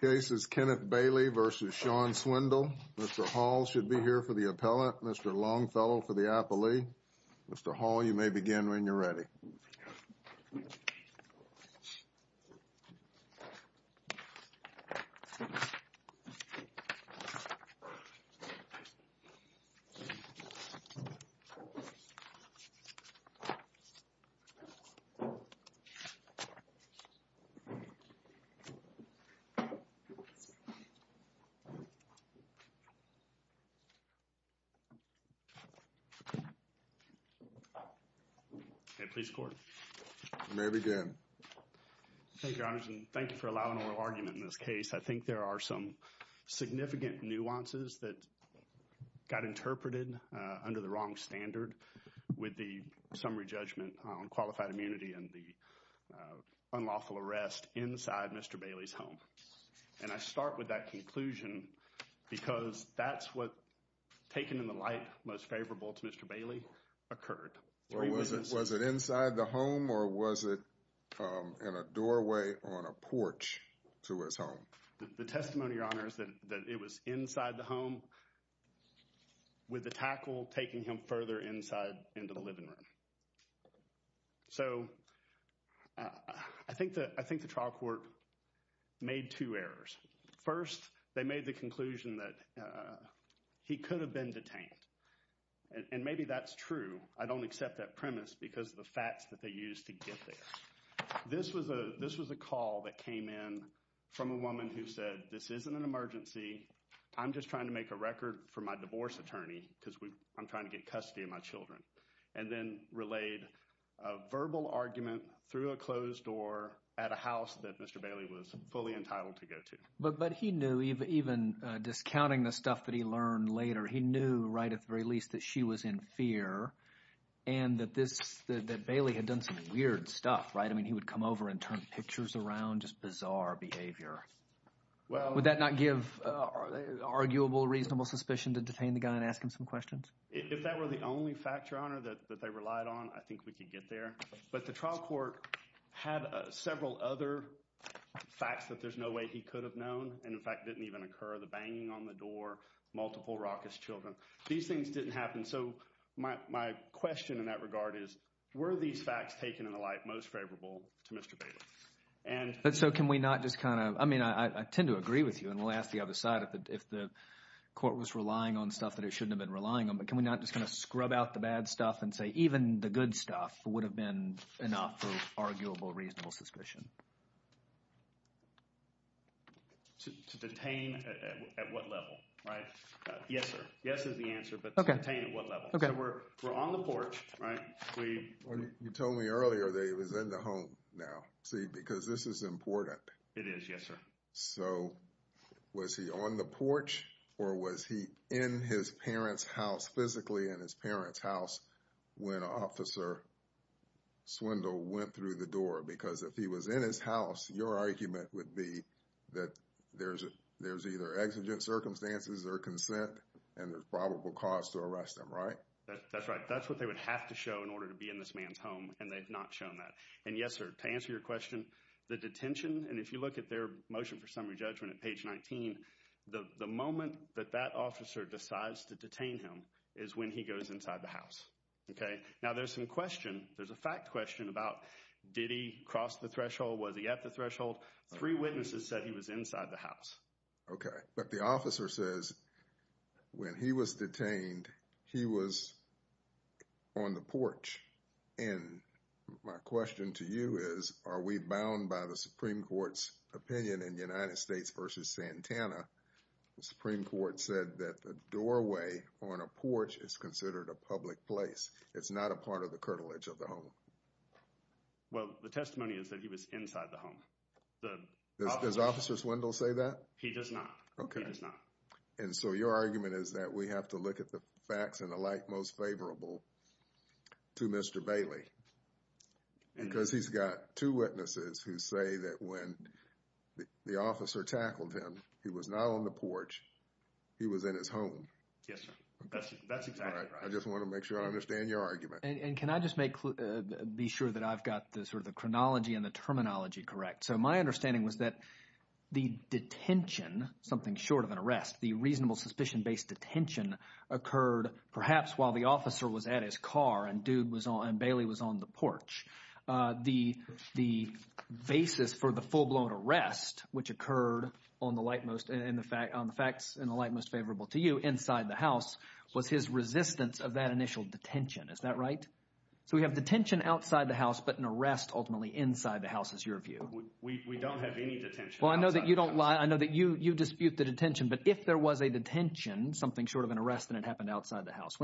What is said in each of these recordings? The case is Kenneth Bailey v. Shawn Swindell. Mr. Hall should be here for the appellate. Mr. Longfellow for the appellee. Mr. Hall, you may begin when you're ready. Thank you for allowing oral argument in this case. I think there are some significant nuances that got interpreted under the wrong standard with the summary judgment on qualified immunity and the unlawful arrest inside Mr. Bailey's home. And I start with that conclusion because that's what, taken in the light, most favorable to Mr. Bailey occurred. Was it inside the home or was it in a doorway on a porch to his home? The testimony, Your Honor, is that it was inside the home with the tackle taking him further inside into the living room. So I think the trial court made two errors. First, they made the conclusion that he could have been detained. And maybe that's true. I don't accept that premise because of the facts that they used to get there. This was a call that came in from a woman who said, this isn't an emergency. I'm just trying to make a record for my divorce attorney because I'm trying to get custody of my children. And then relayed a verbal argument through a closed door at a house that Mr. Bailey was fully entitled to go to. But he knew, even discounting the stuff that he learned later, he knew right at the very least that she was in fear and that Bailey had done some weird stuff, right? I mean, he would come over and turn pictures around, do some just bizarre behavior. Would that not give arguable, reasonable suspicion to detain the guy and ask him some questions? If that were the only fact, Your Honor, that they relied on, I think we could get there. But the trial court had several other facts that there's no way he could have known. And in fact, didn't even occur. The banging on the door, multiple raucous children. These things didn't happen. So my question in that regard is, were these facts taken in the light most favorable to Mr. Bailey? But so can we not just kind of, I mean, I tend to agree with you. And we'll ask the other side if the court was relying on stuff that it shouldn't have been relying on. But can we not just kind of scrub out the bad stuff and say even the good stuff would have been enough for arguable, reasonable suspicion? To detain at what level, right? Yes, sir. Yes is the answer, but to detain at what level? So we're on the porch, right? You told me earlier that he was in the home now. See, because this is important. It is, yes, sir. So was he on the porch or was he in his parents' house, physically in his parents' house when Officer Swindle went through the door? Because if he was in his house, your argument would be that there's either exigent circumstances or consent and there's probable cause to arrest him, right? That's right. That's what they would have to show in order to be in this man's home, and they've not shown that. And yes, sir, to answer your question, the detention, and if you look at their motion for summary judgment at page 19, the moment that that officer decides to detain him is when he goes inside the house, okay? Now there's some question, there's a fact question about did he cross the threshold, was he at the threshold? Three witnesses said he was inside the house. Okay, but the officer says when he was detained, he was on the porch. And my question to you is, are we bound by the Supreme Court's opinion in the United States versus Santana? The Supreme Court said that the doorway on a porch is considered a public place. It's not a part of the curtilage of the home. Well, the testimony is that he was inside the home. Does Officer Swindle say that? He does not. He does not. And so your argument is that we have to look at the facts and the like most favorable to Mr. Bailey? Because he's got two witnesses who say that when the officer tackled him, he was not on the porch, he was in his home. Yes, sir. That's exactly right. I just want to make sure I understand your argument. And can I just be sure that I've got sort of the chronology and the terminology correct? So my understanding was that the detention, something short of an arrest, the reasonable suspicion-based detention, occurred perhaps while the officer was at his car and Bailey was on the porch. The basis for the full-blown arrest, which occurred on the facts and the like most favorable to you, was his resistance of that initial detention. Is that right? So we have detention outside the house, but an arrest ultimately inside the house, is your view? We don't have any detention outside the house. Well, I know that you don't lie. I know that you dispute the detention. But if there was a detention, something short of an arrest, and it happened outside the house,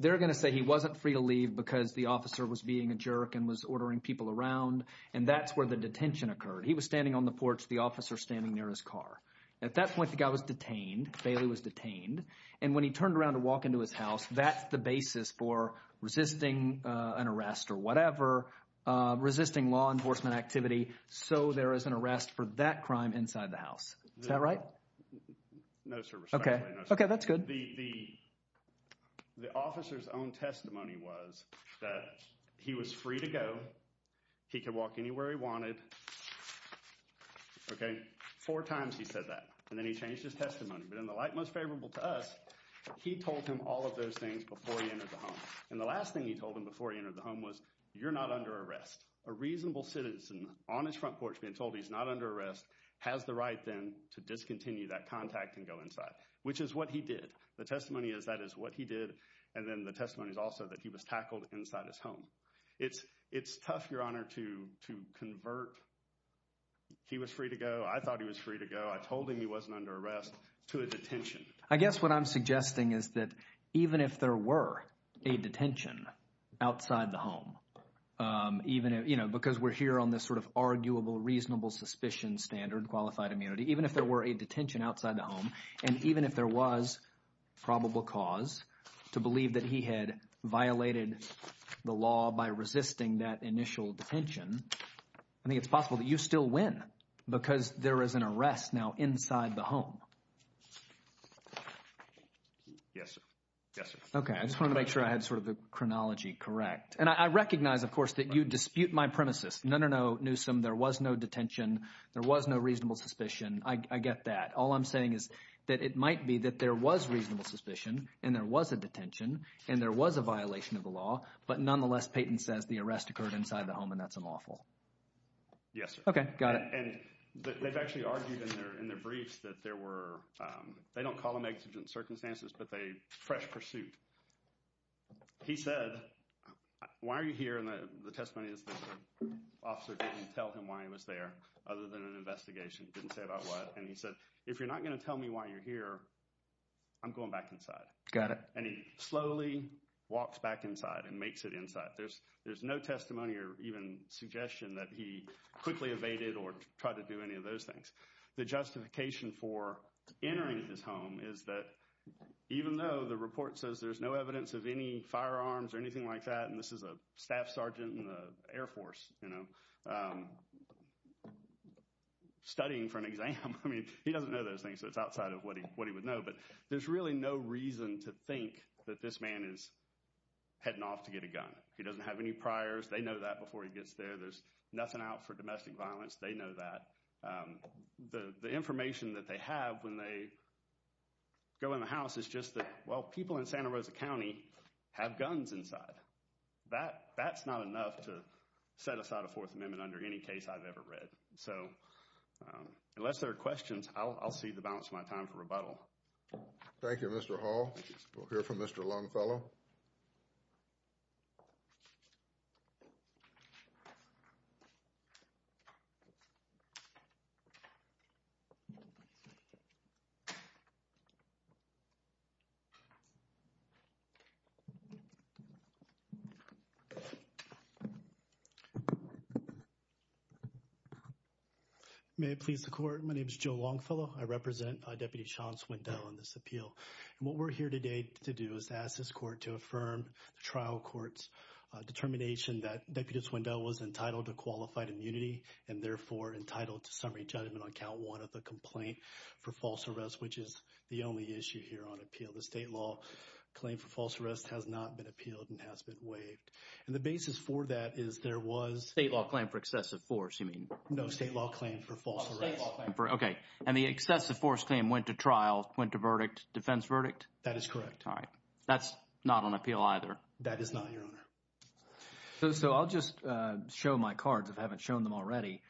they're going to say he wasn't free to leave because the officer was being a jerk and was ordering people around, and that's where the detention occurred. He was standing on the porch, the officer standing near his car. At that point, the guy was detained. Bailey was detained. And when he turned around to walk into his house, that's the basis for resisting an arrest or whatever, resisting law enforcement activity, so there is an arrest for that crime inside the house. Is that right? No, sir. Respectfully, no, sir. Okay. That's good. The officer's own testimony was that he was free to go. He could walk anywhere he wanted. Okay. Four times he said that, and then he changed his testimony. But in the light most favorable to us, he told him all of those things before he entered the home. And the last thing he told him before he entered the home was, you're not under arrest. A reasonable citizen on his front porch being told he's not under arrest has the right then to discontinue that contact and go inside, which is what he did. The testimony is that is what he did, and then the testimony is also that he was tackled inside his home. It's tough, Your Honor, to convert he was free to go, I thought he was free to go, I told him he wasn't under arrest, to a detention. I guess what I'm suggesting is that even if there were a detention outside the home, because we're here on this sort of arguable, reasonable suspicion standard, qualified immunity, even if there were a detention outside the home, and even if there was probable cause to believe that he had violated the law by resisting that initial detention, I think it's possible that you still win because there is an arrest now inside the home. Yes, sir. Yes, sir. Okay. I just wanted to make sure I had sort of the chronology correct. And I recognize, of course, that you dispute my premises. No, no, no, Newsom, there was no detention. There was no reasonable suspicion. I get that. All I'm saying is that it might be that there was reasonable suspicion and there was a detention and there was a violation of the law, but nonetheless, Payton says the arrest occurred inside the home and that's unlawful. Yes, sir. Okay. Got it. And they've actually argued in their briefs that there were, they don't call them exigent circumstances, but they, fresh pursuit. He said, why are you here? And the testimony is that the officer didn't tell him why he was there other than an investigation. Didn't say about what. And he said, if you're not going to tell me why you're here, I'm going back inside. Got it. And he slowly walks back inside and makes it inside. There's no testimony or even suggestion that he quickly evaded or tried to do any of those things. The justification for entering his home is that even though the report says there's no evidence of any firearms or anything like that, and this is a staff sergeant in the Air Force, you know, studying for an exam. I mean, he doesn't know those things, so it's outside of what he would know. But there's really no reason to think that this man is heading off to get a gun. He doesn't have any priors. They know that before he gets there. There's nothing out for domestic violence. They know that. The information that they have when they go in the house is just that, well, people in Santa Rosa County have guns inside. That's not enough to set aside a Fourth Amendment under any case I've ever read. So unless there are questions, I'll see the balance of my time for rebuttal. Thank you, Mr. Hall. We'll hear from Mr. Longfellow. May it please the Court. My name is Joe Longfellow. I represent Deputy Sean Swindell on this appeal. And what we're here today to do is ask this court to affirm the trial court's determination that Deputy Swindell was entitled to qualified immunity and therefore entitled to summary judgment on count one of the complaint for false arrest, which is the only issue here on appeal. The state law claim for false arrest has not been appealed and has been waived. And the basis for that is there was— State law claim for excessive force, you mean? No, state law claim for false arrest. State law claim for—OK. And the excessive force claim went to trial, went to verdict, defense verdict? That is correct. All right. That's not on appeal either. That is not, Your Honor. So I'll just show my cards if I haven't shown them already.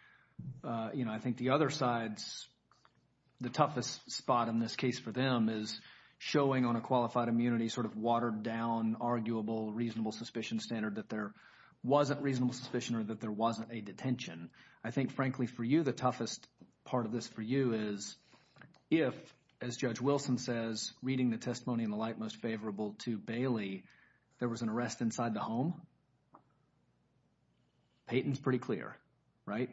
You know, I think the other side's—the toughest spot in this case for them is showing on a qualified immunity sort of watered-down, arguable, reasonable suspicion standard that there wasn't reasonable suspicion or that there wasn't a detention. I think, frankly, for you, the toughest part of this for you is if, as Judge Wilson says, reading the testimony in the light most favorable to Bailey, there was an arrest inside the home. Peyton's pretty clear, right?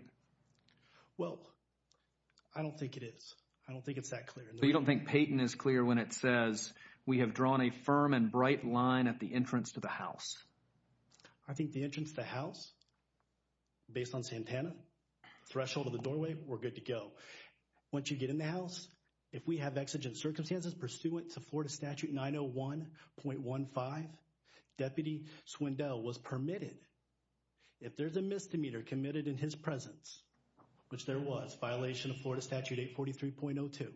Well, I don't think it is. I don't think it's that clear. So you don't think Peyton is clear when it says, we have drawn a firm and bright line at the entrance to the house? I think the entrance to the house, based on Santana, threshold of the doorway, we're good to go. Once you get in the house, if we have exigent circumstances pursuant to Florida Statute 901.15, Deputy Swindell was permitted, if there's a misdemeanor committed in his presence, which there was, violation of Florida Statute 843.02.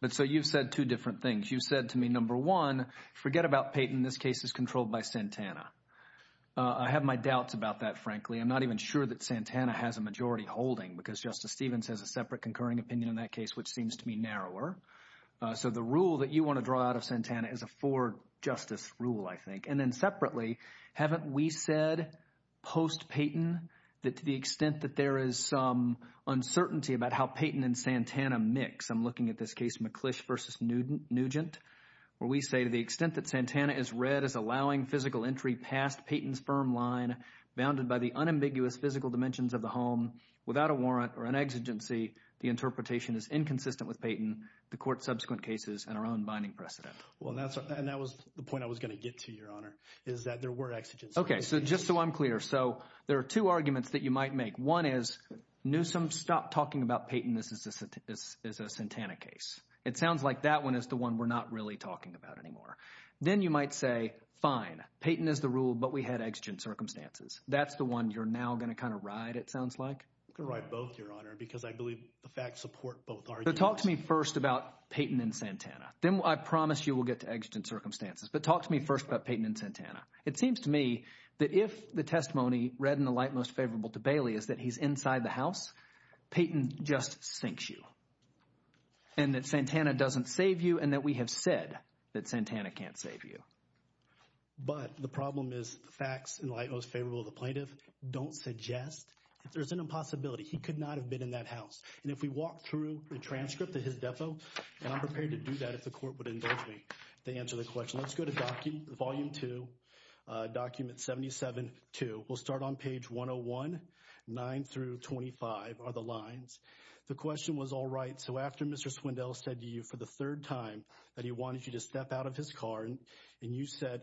But so you've said two different things. You said to me, number one, forget about Peyton. This case is controlled by Santana. I have my doubts about that, frankly. I'm not even sure that Santana has a majority holding because Justice Stevens has a separate concurring opinion in that case, which seems to me narrower. So the rule that you want to draw out of Santana is a for-justice rule, I think. And then separately, haven't we said post-Peyton that to the extent that there is some uncertainty about how Peyton and Santana mix, I'm looking at this case McClish v. Nugent, where we say to the extent that Santana is read as allowing physical entry past Peyton's firm line, bounded by the unambiguous physical dimensions of the home, without a warrant or an exigency, the interpretation is inconsistent with Peyton, the court's subsequent cases, and our own binding precedent. Well, and that was the point I was going to get to, Your Honor, is that there were exigencies. Okay, so just so I'm clear, so there are two arguments that you might make. One is Newsom stopped talking about Peyton as a Santana case. It sounds like that one is the one we're not really talking about anymore. Then you might say, fine, Peyton is the rule, but we had exigent circumstances. That's the one you're now going to kind of ride, it sounds like. I'm going to ride both, Your Honor, because I believe the facts support both arguments. So talk to me first about Peyton and Santana. Then I promise you we'll get to exigent circumstances. But talk to me first about Peyton and Santana. It seems to me that if the testimony read in the light most favorable to Bailey is that he's inside the house, Peyton just sinks you and that Santana doesn't save you and that we have said that Santana can't save you. But the problem is the facts in the light most favorable to the plaintiff don't suggest that there's an impossibility. He could not have been in that house. And if we walk through the transcript at his depot, and I'm prepared to do that if the court would indulge me to answer the question. Let's go to volume 2, document 77-2. We'll start on page 101. 9 through 25 are the lines. The question was all right. So after Mr. Swindell said to you for the third time that he wanted you to step out of his car and you said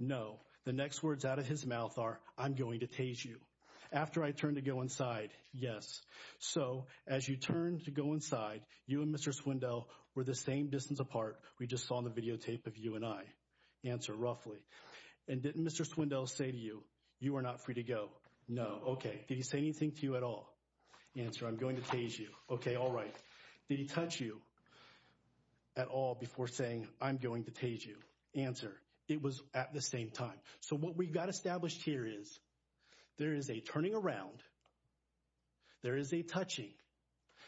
no, the next words out of his mouth are, I'm going to tase you. After I turned to go inside, yes. So as you turned to go inside, you and Mr. Swindell were the same distance apart. We just saw the videotape of you and I. Answer roughly. And didn't Mr. Swindell say to you, you are not free to go? No. Okay. Did he say anything to you at all? Answer, I'm going to tase you. Okay. All right. Did he touch you at all before saying, I'm going to tase you? Answer, it was at the same time. So what we've got established here is there is a turning around. There is a touching.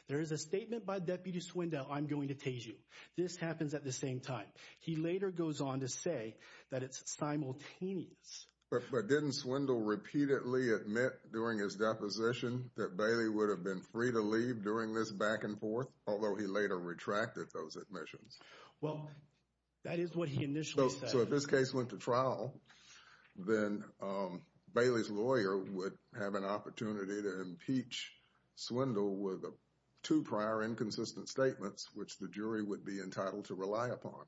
There is a statement by Deputy Swindell, I'm going to tase you. This happens at the same time. He later goes on to say that it's simultaneous. But didn't Swindell repeatedly admit during his deposition that Bailey would have been free to leave during this back and forth? Although he later retracted those admissions. Well, that is what he initially said. So if this case went to trial, then Bailey's lawyer would have an opportunity to impeach Swindell with two prior inconsistent statements, which the jury would be entitled to rely upon.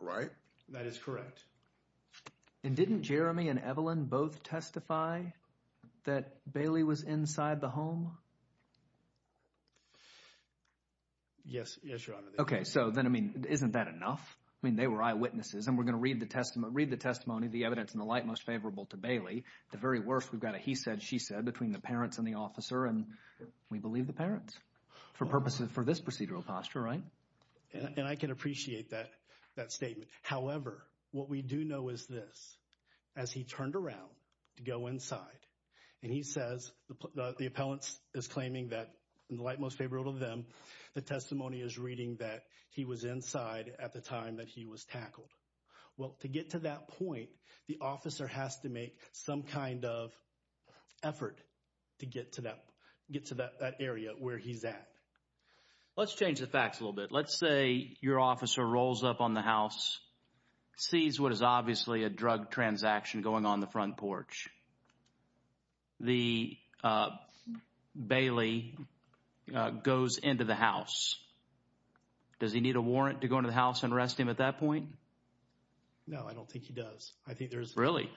Right? That is correct. And didn't Jeremy and Evelyn both testify that Bailey was inside the home? Yes, Your Honor. Okay. So then, I mean, isn't that enough? I mean, they were eyewitnesses, and we're going to read the testimony, the evidence in the light most favorable to Bailey. At the very worst, we've got a he said, she said between the parents and the officer, and we believe the parents for purposes, for this procedural posture, right? And I can appreciate that statement. However, what we do know is this. As he turned around to go inside, and he says the appellant is claiming that in the light most favorable to them, the testimony is reading that he was inside at the time that he was tackled. Well, to get to that point, the officer has to make some kind of effort to get to that area where he's at. Let's change the facts a little bit. Let's say your officer rolls up on the house, sees what is obviously a drug transaction going on the front porch. Bailey goes into the house. Does he need a warrant to go into the house and arrest him at that point? No, I don't think he does. Really?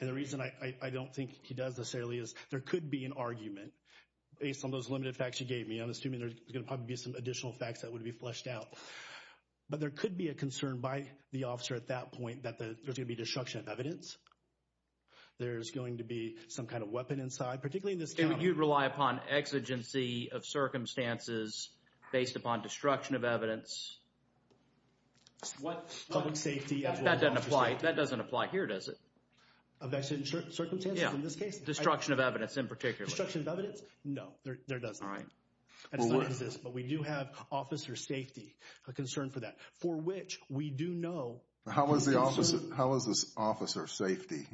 And the reason I don't think he does necessarily is there could be an argument based on those limited facts you gave me. I'm assuming there's going to probably be some additional facts that would be fleshed out. But there could be a concern by the officer at that point that there's going to be destruction of evidence. There's going to be some kind of weapon inside, particularly in this county. You'd rely upon exigency of circumstances based upon destruction of evidence. What? Public safety. That doesn't apply here, does it? Of exigent circumstances in this case? Destruction of evidence in particular. Destruction of evidence? No, there doesn't. All right. That does not exist. But we do have officer safety, a concern for that, for which we do know. How is this officer safety?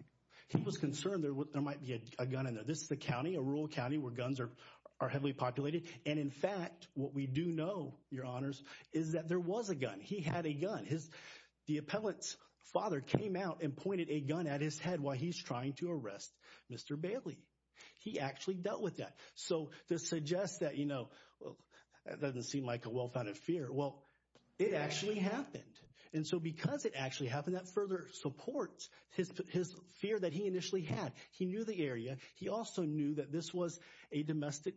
He was concerned there might be a gun in there. This is a county, a rural county, where guns are heavily populated. And, in fact, what we do know, Your Honors, is that there was a gun. He had a gun. The appellant's father came out and pointed a gun at his head while he's trying to arrest Mr. Bailey. He actually dealt with that. So to suggest that, you know, that doesn't seem like a well-founded fear. Well, it actually happened. And so because it actually happened, that further supports his fear that he initially had. He knew the area. He also knew that this was a domestic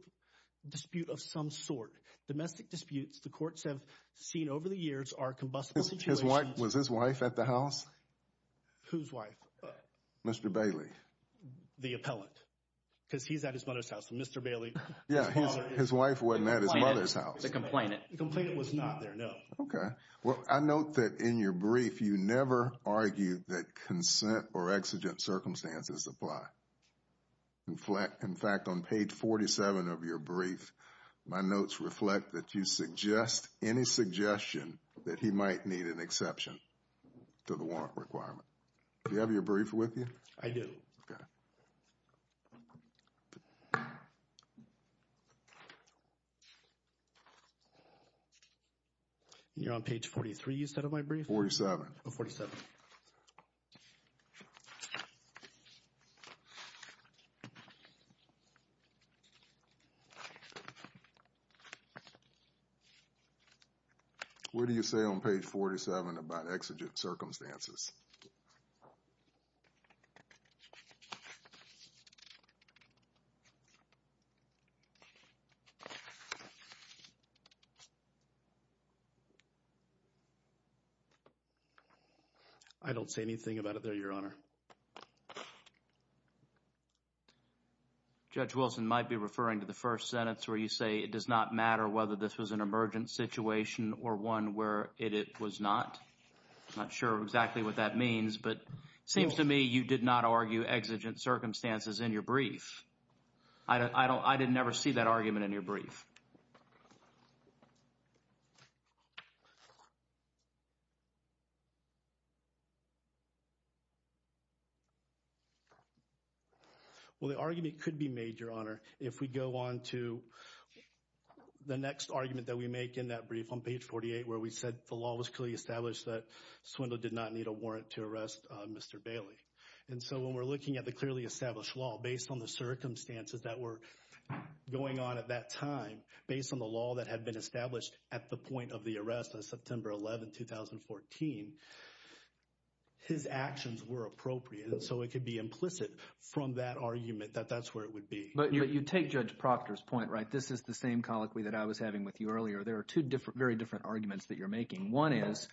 dispute of some sort. Domestic disputes, the courts have seen over the years, are combustible situations. Was his wife at the house? Whose wife? Mr. Bailey. The appellant. Because he's at his mother's house. Mr. Bailey. Yeah, his wife wasn't at his mother's house. The complainant. The complainant was not there, no. Okay. Well, I note that in your brief, you never argue that consent or exigent circumstances apply. In fact, on page 47 of your brief, my notes reflect that you suggest any suggestion that he might need an exception to the warrant requirement. Do you have your brief with you? I do. Okay. You're on page 43, you said, of my brief? 47. Oh, 47. What do you say on page 47 about exigent circumstances? I don't say anything about it there, Your Honor. Judge Wilson might be referring to the first sentence where you say, it does not matter whether this was an emergent situation or one where it was not. I'm not sure exactly what that means. But it seems to me you did not argue exigent circumstances in your brief. I didn't ever see that argument in your brief. Well, the argument could be made, Your Honor, if we go on to the next argument that we make in that brief on page 48 where we said the law was clearly established that Swindle did not need a warrant to arrest Mr. Bailey. And so when we're looking at the clearly established law, based on the circumstances that were going on at that time, based on the law that had been established at the point of the arrest on September 11, 2014, his actions were appropriate. So it could be implicit from that argument that that's where it would be. But you take Judge Proctor's point, right? This is the same colloquy that I was having with you earlier. There are two very different arguments that you're making. One is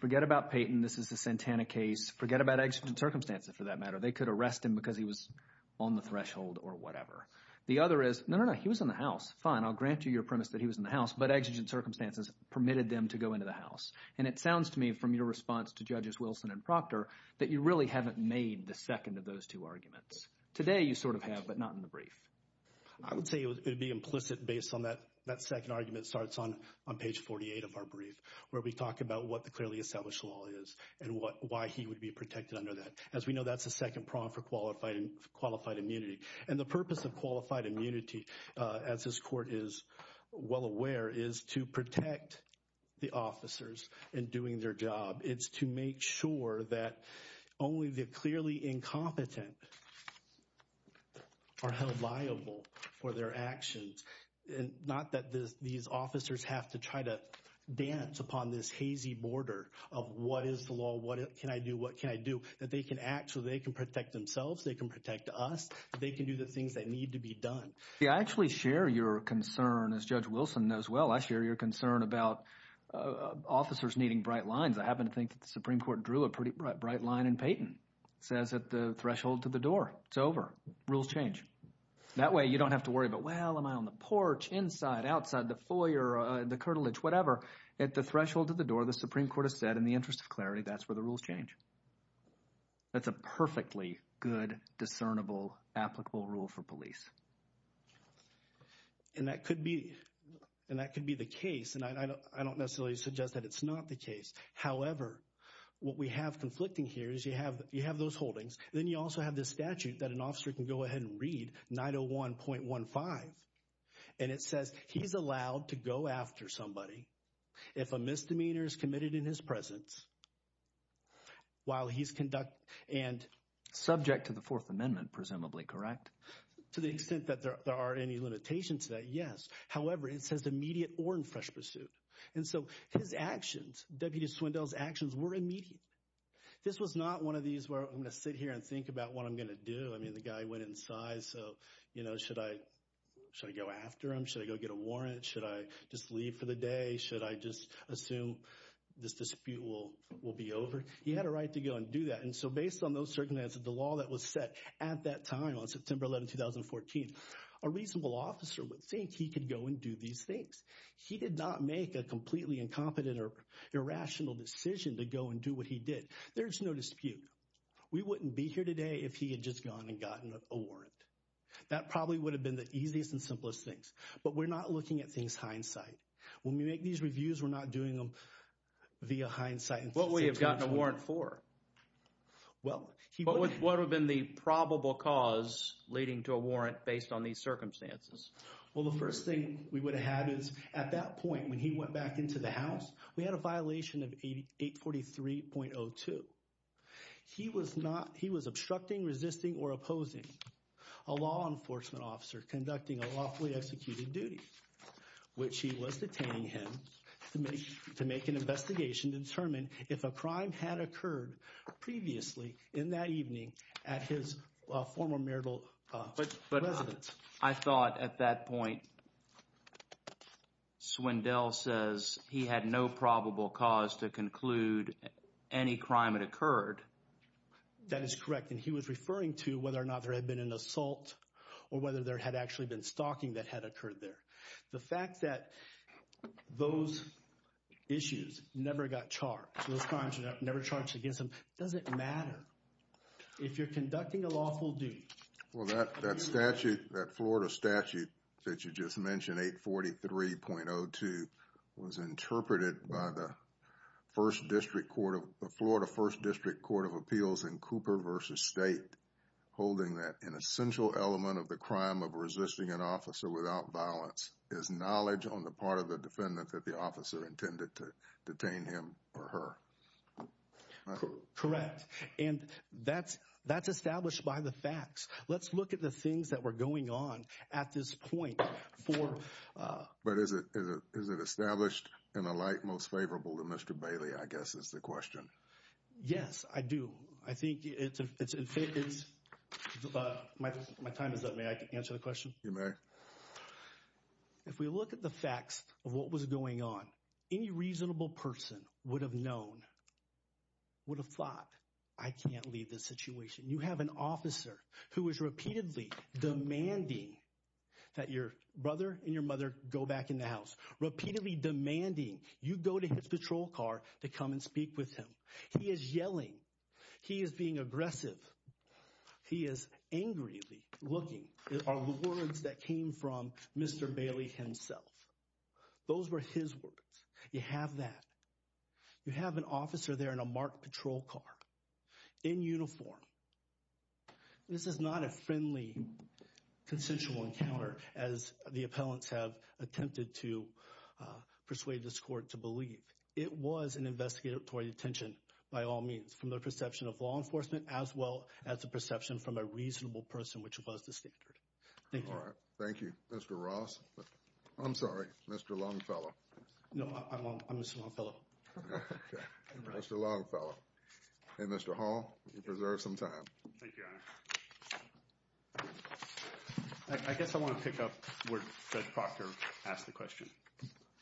forget about Payton. This is the Santana case. Forget about exigent circumstances for that matter. They could arrest him because he was on the threshold or whatever. The other is, no, no, no, he was in the house. Fine, I'll grant you your premise that he was in the house, but exigent circumstances permitted them to go into the house. And it sounds to me from your response to Judges Wilson and Proctor that you really haven't made the second of those two arguments. Today you sort of have, but not in the brief. I would say it would be implicit based on that second argument that starts on page 48 of our brief, where we talk about what the clearly established law is and why he would be protected under that. As we know, that's the second prong for qualified immunity. And the purpose of qualified immunity, as this court is well aware, is to protect the officers in doing their job. It's to make sure that only the clearly incompetent are held liable for their actions, not that these officers have to try to dance upon this hazy border of what is the law, what can I do, what can I do, that they can act so they can protect themselves, they can protect us, they can do the things that need to be done. I actually share your concern, as Judge Wilson knows well, I share your concern about officers needing bright lines. I happen to think that the Supreme Court drew a pretty bright line in Payton. It says at the threshold to the door, it's over, rules change. That way you don't have to worry about, well, am I on the porch, inside, outside, the foyer, the curtilage, whatever. At the threshold to the door, the Supreme Court has said in the interest of clarity, that's where the rules change. That's a perfectly good, discernible, applicable rule for police. And that could be the case, and I don't necessarily suggest that it's not the case, however, what we have conflicting here is you have those holdings, then you also have this statute that an officer can go ahead and read, 901.15, and it says he's allowed to go after somebody if a misdemeanor is committed in his presence, while he's conducting, and... Subject to the Fourth Amendment, presumably, correct? To the extent that there are any limitations to that, yes. However, it says immediate or in fresh pursuit. And so his actions, Deputy Swindell's actions were immediate. This was not one of these where I'm going to sit here and think about what I'm going to do. I mean, the guy went inside, so, you know, should I go after him? Should I go get a warrant? Should I just leave for the day? Should I just assume this dispute will be over? He had a right to go and do that, and so based on those circumstances, the law that was set at that time, on September 11, 2014, a reasonable officer would think he could go and do these things. He did not make a completely incompetent or irrational decision to go and do what he did. There's no dispute. We wouldn't be here today if he had just gone and gotten a warrant. That probably would have been the easiest and simplest things, but we're not looking at things hindsight. When we make these reviews, we're not doing them via hindsight. What would he have gotten a warrant for? What would have been the probable cause leading to a warrant based on these circumstances? Well, the first thing we would have had is at that point, when he went back into the house, we had a violation of 843.02. He was obstructing, resisting, or opposing a law enforcement officer conducting a lawfully executed duty, which he was detaining him to make an investigation to determine if a crime had occurred previously in that evening at his former marital residence. I thought at that point Swindell says he had no probable cause to conclude any crime had occurred. That is correct, and he was referring to whether or not there had been an assault or whether there had actually been stalking that had occurred there. The fact that those issues never got charged, those crimes were never charged against them, doesn't matter. If you're conducting a lawful duty… Well, that Florida statute that you just mentioned, 843.02, was interpreted by the Florida 1st District Court of Appeals in Cooper v. State, holding that an essential element of the crime of resisting an officer without violence is knowledge on the part of the defendant that the officer intended to detain him or her. Correct, and that's established by the facts. Let's look at the things that were going on at this point for… But is it established in a light most favorable to Mr. Bailey, I guess is the question. Yes, I do. I think it's… My time is up. May I answer the question? You may. If we look at the facts of what was going on, any reasonable person would have known, would have thought, I can't leave this situation. You have an officer who is repeatedly demanding that your brother and your mother go back in the house, repeatedly demanding you go to his patrol car to come and speak with him. He is yelling. He is being aggressive. He is angrily looking. These are words that came from Mr. Bailey himself. Those were his words. You have that. You have an officer there in a marked patrol car, in uniform. This is not a friendly consensual encounter as the appellants have attempted to persuade this court to believe. It was an investigatory detention by all means, from the perception of law enforcement as well as the perception from a reasonable person, which was the standard. Thank you. Thank you, Mr. Ross. I'm sorry, Mr. Longfellow. No, I'm Mr. Longfellow. Mr. Longfellow. And Mr. Hall, you preserve some time. Thank you, Your Honor. I guess I want to pick up where Judge Proctor asked the question.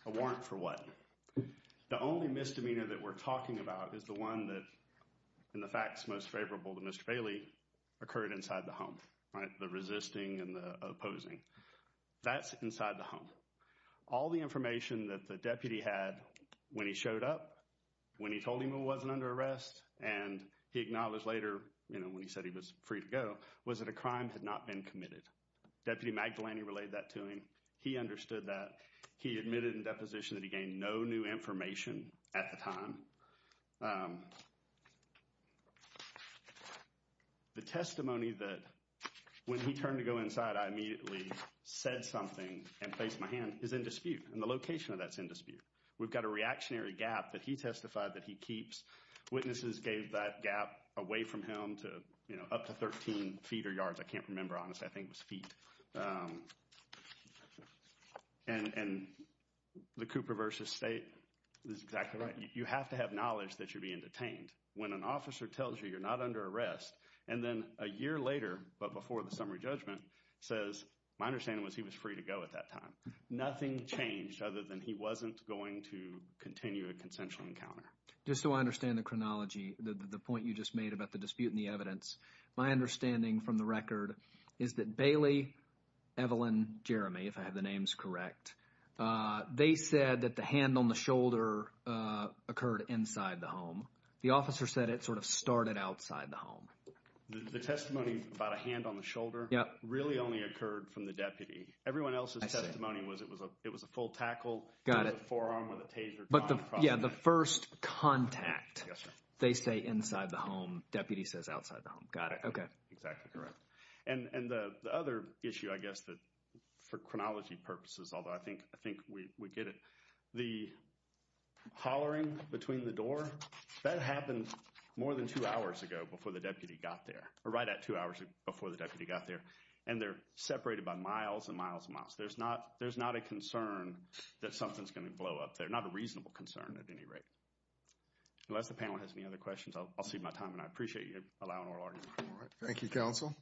A warrant for what? The only misdemeanor that we're talking about is the one that, in the facts most favorable to Mr. Bailey, occurred inside the home. The resisting and the opposing. That's inside the home. All the information that the deputy had when he showed up, when he told him he wasn't under arrest, and he acknowledged later when he said he was free to go, was that a crime had not been committed. Deputy Magdalene relayed that to him. He understood that. He admitted in deposition that he gained no new information at the time. The testimony that when he turned to go inside, I immediately said something and placed my hand, is in dispute. And the location of that is in dispute. We've got a reactionary gap that he testified that he keeps. Witnesses gave that gap away from him to up to 13 feet or yards. I can't remember, honestly. I think it was feet. And the Cooper versus State is exactly right. You have to have knowledge that you're being detained. When an officer tells you you're not under arrest, and then a year later, but before the summary judgment, says my understanding was he was free to go at that time. Nothing changed other than he wasn't going to continue a consensual encounter. Just so I understand the chronology, the point you just made about the dispute and the evidence, my understanding from the record is that Bailey, Evelyn, Jeremy, if I have the names correct, they said that the hand on the shoulder occurred inside the home. The officer said it sort of started outside the home. The testimony about a hand on the shoulder really only occurred from the deputy. Everyone else's testimony was it was a full tackle. Got it. It was a forearm with a taser. Yeah, the first contact. Yes, sir. They say inside the home. Deputy says outside the home. Got it. Okay. Exactly correct. And the other issue, I guess, for chronology purposes, although I think we get it, the hollering between the door, that happened more than two hours ago before the deputy got there. Or right at two hours before the deputy got there. And they're separated by miles and miles and miles. There's not a concern that something's going to blow up there. Not a reasonable concern at any rate. Unless the panel has any other questions, I'll cede my time. And I appreciate you allowing oral argument. All right. Thank you, counsel.